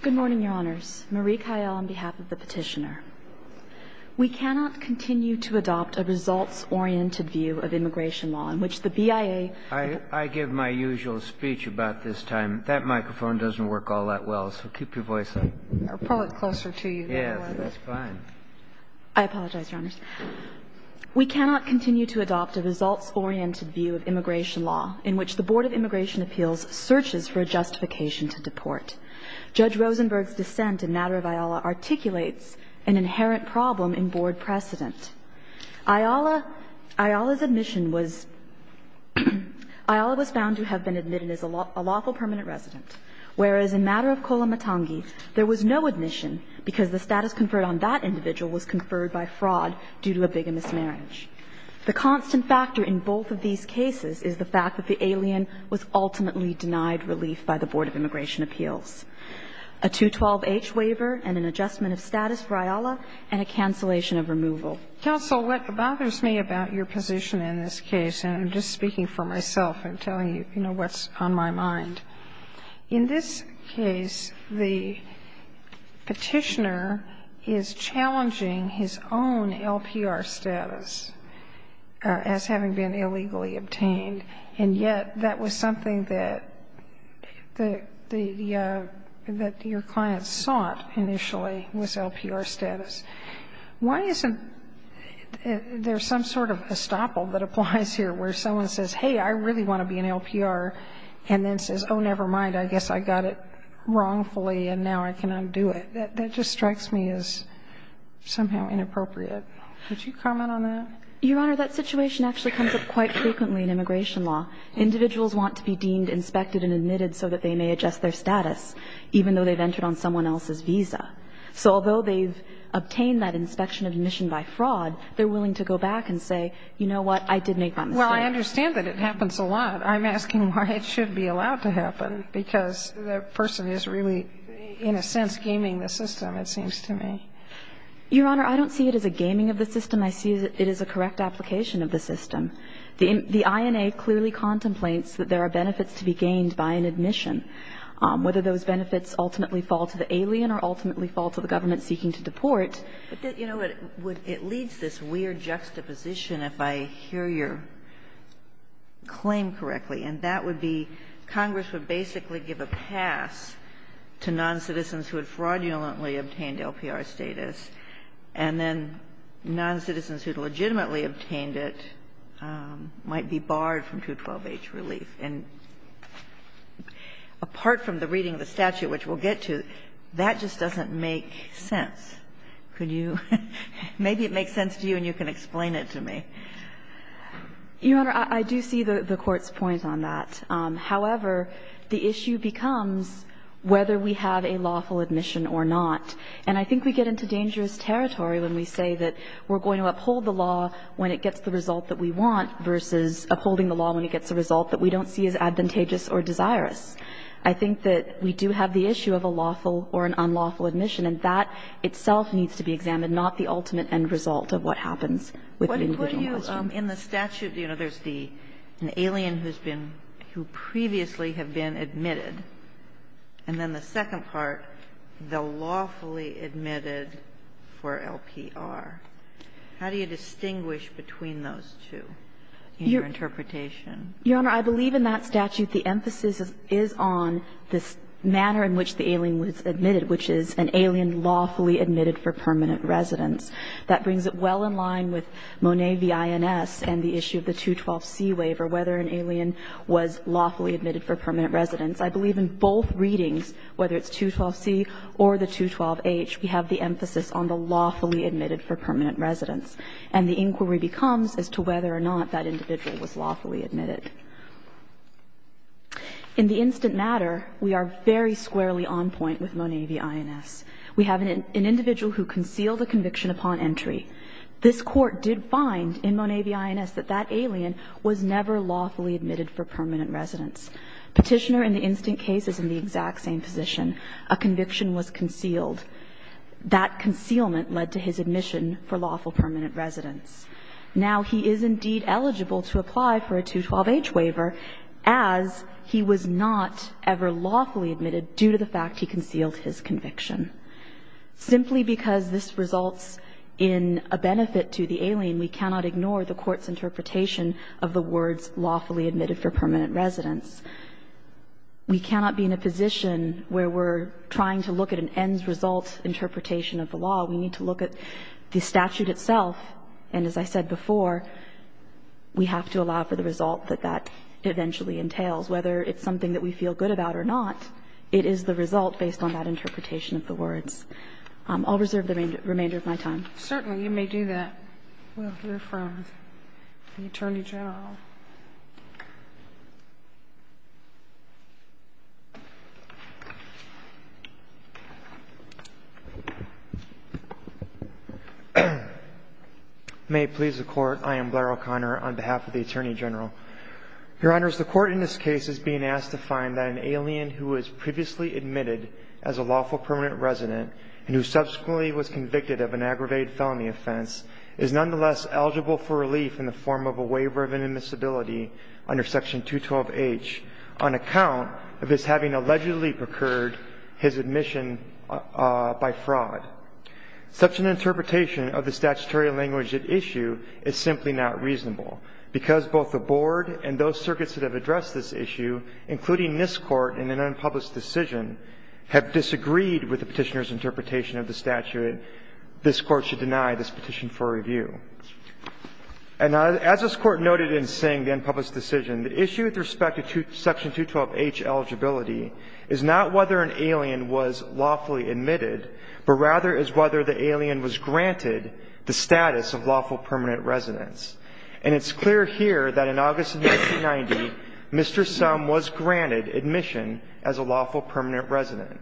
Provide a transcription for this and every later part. Good morning, Your Honors. Marie Kyle on behalf of the petitioner. We cannot continue to adopt a results-oriented view of immigration law in which the BIA I give my usual speech about this time. That microphone doesn't work all that well, so keep your voice up. Probably closer to you. Yes, that's fine. I apologize, Your Honors. We cannot continue to adopt a results-oriented view of immigration law in which the Board of Immigration Appeals searches for a justification to deport. Judge Rosenberg's dissent in matter of IALA articulates an inherent problem in Board precedent. IALA's admission was IALA was found to have been admitted as a lawful permanent resident, whereas in matter of Kolamatangi there was no admission because the status conferred on that individual was conferred by fraud due to a bigamist marriage. The constant factor in both of these cases is the fact that the alien was ultimately denied relief by the Board of Immigration Appeals. A 212-H waiver and an adjustment of status for IALA and a cancellation of removal. Counsel, what bothers me about your position in this case, and I'm just speaking for myself and telling you, you know, what's on my mind. In this case, the petitioner is challenging his own LPR status as having been illegally obtained, and yet that was something that your client sought initially, was LPR status. Why isn't there some sort of estoppel that applies here where someone says, hey, I really want to be an LPR, and then says, oh, never mind, I guess I got it wrongfully and now I can undo it? That just strikes me as somehow inappropriate. Would you comment on that? Your Honor, that situation actually comes up quite frequently in immigration law. Individuals want to be deemed, inspected and admitted so that they may adjust their status, even though they've entered on someone else's visa. So although they've obtained that inspection of admission by fraud, they're willing to go back and say, you know what, I did make that mistake. Well, I understand that it happens a lot. I'm asking why it should be allowed to happen, because the person is really, in a sense, gaming the system, it seems to me. Your Honor, I don't see it as a gaming of the system. I see that it is a correct application of the system. The INA clearly contemplates that there are benefits to be gained by an admission, whether those benefits ultimately fall to the alien or ultimately fall to the government seeking to deport. But, you know, it leads this weird juxtaposition, if I hear your claim correctly, and that would be Congress would basically give a pass to noncitizens who had fraudulently obtained LPR status, and then noncitizens who had legitimately obtained it might be barred from 212H relief. And apart from the reading of the statute, which we'll get to, that just doesn't make sense. Could you – maybe it makes sense to you and you can explain it to me. Your Honor, I do see the Court's point on that. However, the issue becomes whether we have a lawful admission or not. And I think we get into dangerous territory when we say that we're going to uphold the law when it gets the result that we want versus upholding the law when it gets a result that we don't see as advantageous or desirous. I think that we do have the issue of a lawful or an unlawful admission. And that itself needs to be examined, not the ultimate end result of what happens with an individual question. Kagan in the statute, you know, there's the – an alien who's been – who previously have been admitted, and then the second part, the lawfully admitted for LPR. How do you distinguish between those two in your interpretation? Your Honor, I believe in that statute the emphasis is on this manner in which the alien was admitted, which is an alien lawfully admitted for permanent residence. That brings it well in line with Monet v. INS and the issue of the 212C waiver, whether an alien was lawfully admitted for permanent residence. I believe in both readings, whether it's 212C or the 212H, we have the emphasis on the lawfully admitted for permanent residence. And the inquiry becomes as to whether or not that individual was lawfully admitted. In the instant matter, we are very squarely on point with Monet v. INS. We have an individual who concealed a conviction upon entry. This Court did find in Monet v. INS that that alien was never lawfully admitted for permanent residence. Petitioner in the instant case is in the exact same position. A conviction was concealed. That concealment led to his admission for lawful permanent residence. Now, he is indeed eligible to apply for a 212H waiver as he was not ever lawfully admitted due to the fact he concealed his conviction. Simply because this results in a benefit to the alien, we cannot ignore the Court's interpretation of the words lawfully admitted for permanent residence. We cannot be in a position where we're trying to look at an ends-result interpretation of the law. We need to look at the statute itself. And as I said before, we have to allow for the result that that eventually entails, whether it's something that we feel good about or not. It is the result based on that interpretation of the words. I'll reserve the remainder of my time. Certainly. You may do that. We'll hear from the Attorney General. May it please the Court. I am Blair O'Connor on behalf of the Attorney General. Your Honors, the Court in this case is being asked to find that an alien who was previously admitted as a lawful permanent resident and who subsequently was convicted of an aggravated felony offense is nonetheless eligible for relief in the form of a waiver of inadmissibility under Section 212H on account of his having allegedly procured his admission by fraud. Such an interpretation of the statutory language at issue is simply not reasonable because both the Board and those circuits that have addressed this issue, including this Court in an unpublished decision, have disagreed with the Petitioner's interpretation of the statute. This Court should deny this petition for review. And as this Court noted in saying the unpublished decision, the issue with respect to Section 212H eligibility is not whether an alien was lawfully admitted, but rather is whether the alien was granted the status of lawful permanent residence. And it's clear here that in August of 1990, Mr. Summ was granted admission as a lawful permanent resident.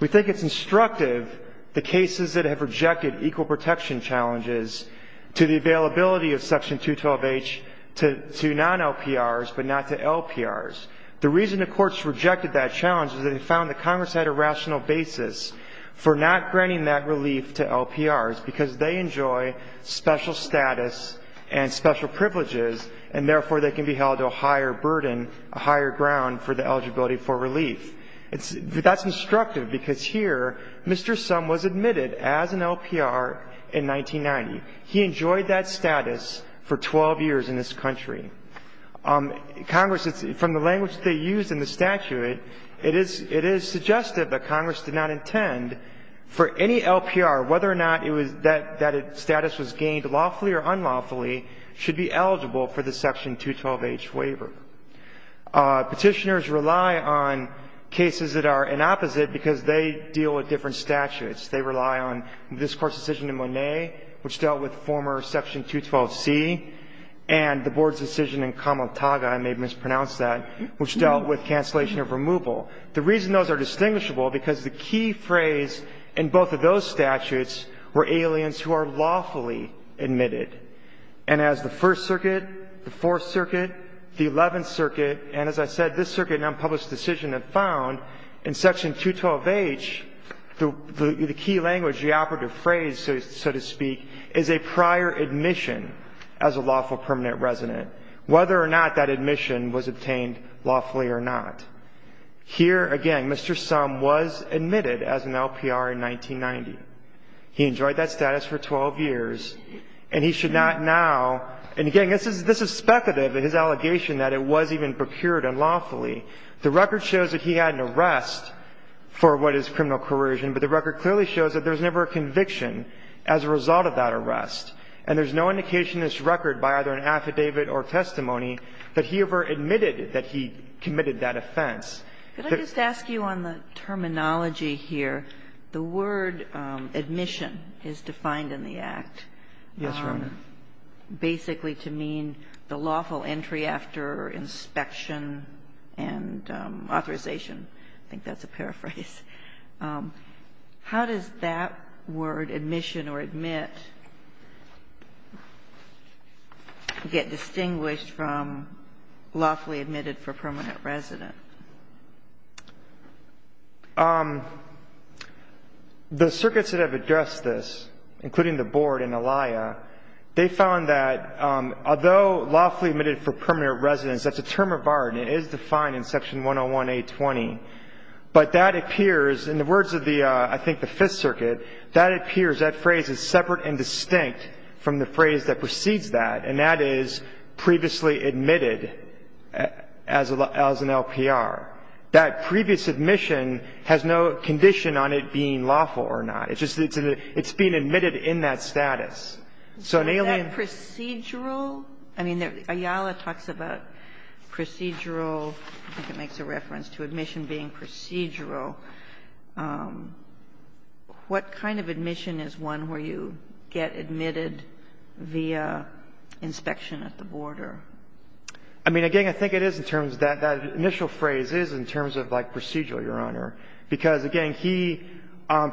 We think it's instructive the cases that have rejected equal protection challenges to the availability of Section 212H to non-LPRs but not to LPRs. The reason the courts rejected that challenge is that they found that Congress had a rational basis for not granting that relief to LPRs because they enjoy special status and special privileges, and therefore, they can be held to a higher burden, a higher ground for the eligibility for relief. That's instructive because here Mr. Summ was admitted as an LPR in 1990. He enjoyed that status for 12 years in this country. Congress, from the language they used in the statute, it is suggestive that Congress did not intend for any LPR, whether or not it was that that status was gained lawfully or unlawfully, should be eligible for the Section 212H waiver. Petitioners rely on cases that are an opposite because they deal with different statutes. They rely on this Court's decision in Monet, which dealt with former Section 212C, and the Board's decision in Kamataga, I may have mispronounced that, which dealt with cancellation of removal. The reason those are distinguishable, because the key phrase in both of those statutes were aliens who are lawfully admitted. And as the First Circuit, the Fourth Circuit, the Eleventh Circuit, and as I said, this Circuit in unpublished decision have found in Section 212H, the key language, the operative phrase, so to speak, is a prior admission as a lawful permanent resident, whether or not that admission was obtained lawfully or not. Here, again, Mr. Summ was admitted as an LPR in 1990. He enjoyed that status for 12 years, and he should not now, and again, this is speculative in his allegation that it was even procured unlawfully. The record shows that he had an arrest for what is criminal coercion, but the record clearly shows that there was never a conviction as a result of that arrest. And there's no indication in this record by either an affidavit or testimony that he ever admitted that he committed that offense. Ginsburg. Could I just ask you on the terminology here? The word admission is defined in the Act. Yes, Your Honor. Basically to mean the lawful entry after inspection and authorization. I think that's a paraphrase. How does that word, admission or admit, get distinguished from lawfully admitted for permanent resident? The circuits that have addressed this, including the Board and ALIA, they found that although lawfully admitted for permanent residence, that's a term of art and it is defined in Section 101A20. But that appears, in the words of the, I think, the Fifth Circuit, that appears that phrase is separate and distinct from the phrase that precedes that, and that is previously admitted as an LPR. That previous admission has no condition on it being lawful or not. It's just that it's being admitted in that status. So an ALIA. Is that procedural? I mean, Ayala talks about procedural. I think it makes a reference to admission being procedural. What kind of admission is one where you get admitted via inspection at the border? I mean, again, I think it is in terms of that. That initial phrase is in terms of, like, procedural, Your Honor, because, again, he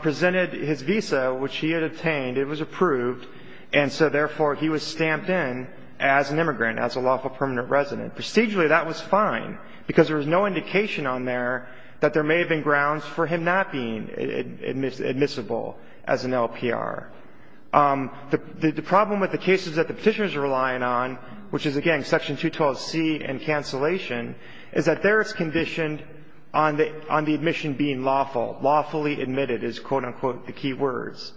presented his visa, which he had obtained. It was approved. And so, therefore, he was stamped in as an immigrant, as a lawful permanent resident. Procedurally, that was fine, because there was no indication on there that there may have been grounds for him not being admissible as an LPR. The problem with the cases that the Petitioners are relying on, which is, again, Section 212C and cancellation, is that there it's conditioned on the admission being lawful. Lawfully admitted is, quote, unquote, the key words.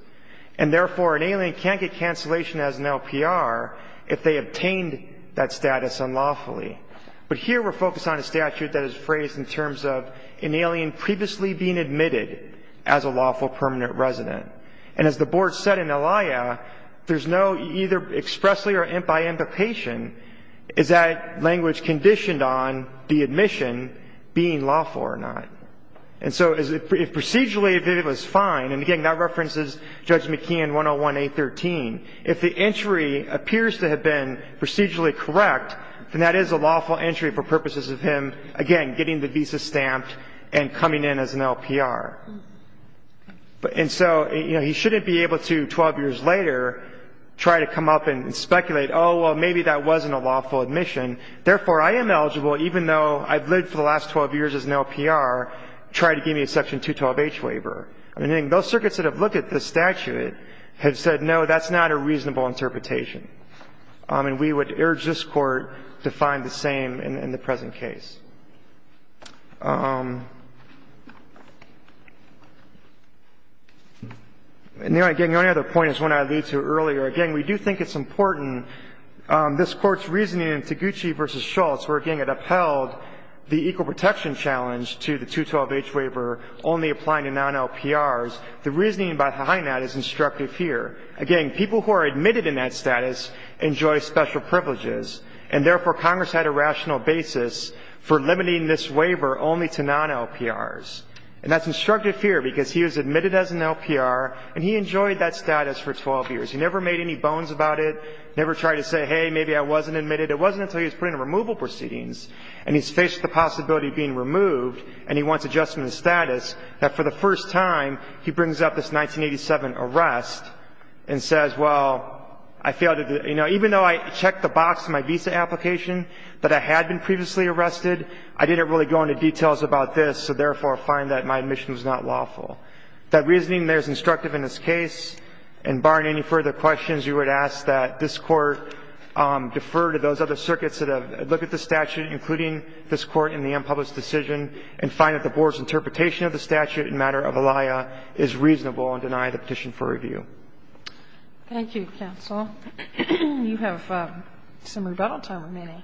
And, therefore, an alien can't get cancellation as an LPR if they obtained that status unlawfully. But here we're focused on a statute that is phrased in terms of an alien previously being admitted as a lawful permanent resident. And as the Board said in Elia, there's no either expressly or by implication, is that language conditioned on the admission being lawful or not. And so if procedurally it was fine, and, again, that references Judge McKeon 101A13, if the entry appears to have been procedurally correct, then that is a lawful entry for purposes of him, again, getting the visa stamped and coming in as an LPR. And so, you know, he shouldn't be able to, 12 years later, try to come up and speculate, oh, well, maybe that wasn't a lawful admission. Therefore, I am eligible, even though I've lived for the last 12 years as an LPR, try to give me a Section 212H waiver. I mean, those circuits that have looked at this statute have said, no, that's not a reasonable interpretation. And we would urge this Court to find the same in the present case. And the only other point is one I alluded to earlier. Again, we do think it's important, this Court's reasoning in Taguchi v. Schultz, where, again, it upheld the equal protection challenge to the 212H waiver only applying to non-LPRs, the reasoning behind that is instructive fear. Again, people who are admitted in that status enjoy special privileges, and therefore, Congress had a rational basis for limiting this waiver only to non-LPRs. And that's instructive fear, because he was admitted as an LPR, and he enjoyed that status for 12 years. He never made any bones about it, never tried to say, hey, maybe I wasn't admitted. It wasn't until he was put in removal proceedings and he's faced the possibility of being removed, and he wants adjustment of status, that for the first time he brings up this 1987 arrest and says, well, I failed to do the – you know, even though I checked the box in my visa application that I had been previously arrested, I didn't really go into details about this, so therefore, I find that my admission was not lawful. That reasoning there is instructive in this case. And barring any further questions, you would ask that this Court defer to those other You have some rebuttal time remaining.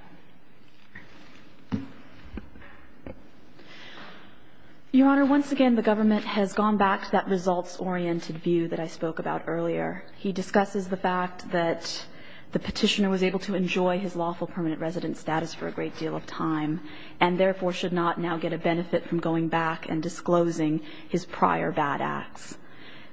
Your Honor, once again, the government has gone back to that results-oriented view that I spoke about earlier. He discusses the fact that the Petitioner was able to enjoy his lawful permanent residence status for a great deal of time, and therefore, should not be able to enjoy And I think that's a very important point. from going back and disclosing his prior bad acts.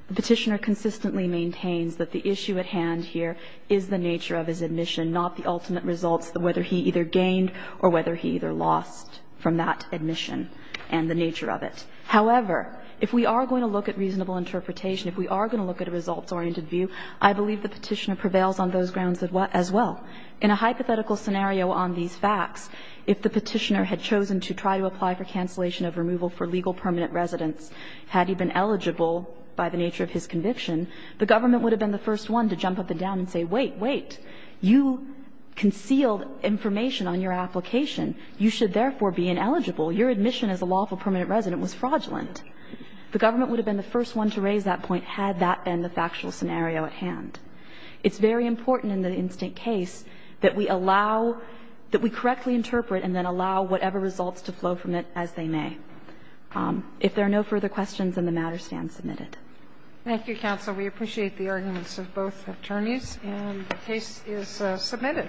The Petitioner consistently maintains that the issue at hand here is the nature of his admission, not the ultimate results, whether he either gained or whether he either lost from that admission and the nature of it. However, if we are going to look at reasonable interpretation, if we are going to look at a results-oriented view, I believe the Petitioner prevails on those grounds as well. In a hypothetical scenario on these facts, if the Petitioner had chosen to try to apply for cancellation of removal for legal permanent residence, had he been eligible by the nature of his conviction, the government would have been the first one to jump up and down and say, wait, wait, you concealed information on your application. You should therefore be ineligible. Your admission as a lawful permanent resident was fraudulent. The government would have been the first one to raise that point had that been the factual scenario at hand. It's very important in the instant case that we allow, that we correctly interpret and then allow whatever results to flow from it as they may. If there are no further questions, then the matter stands submitted. Thank you, counsel. We appreciate the arguments of both attorneys. And the case is submitted.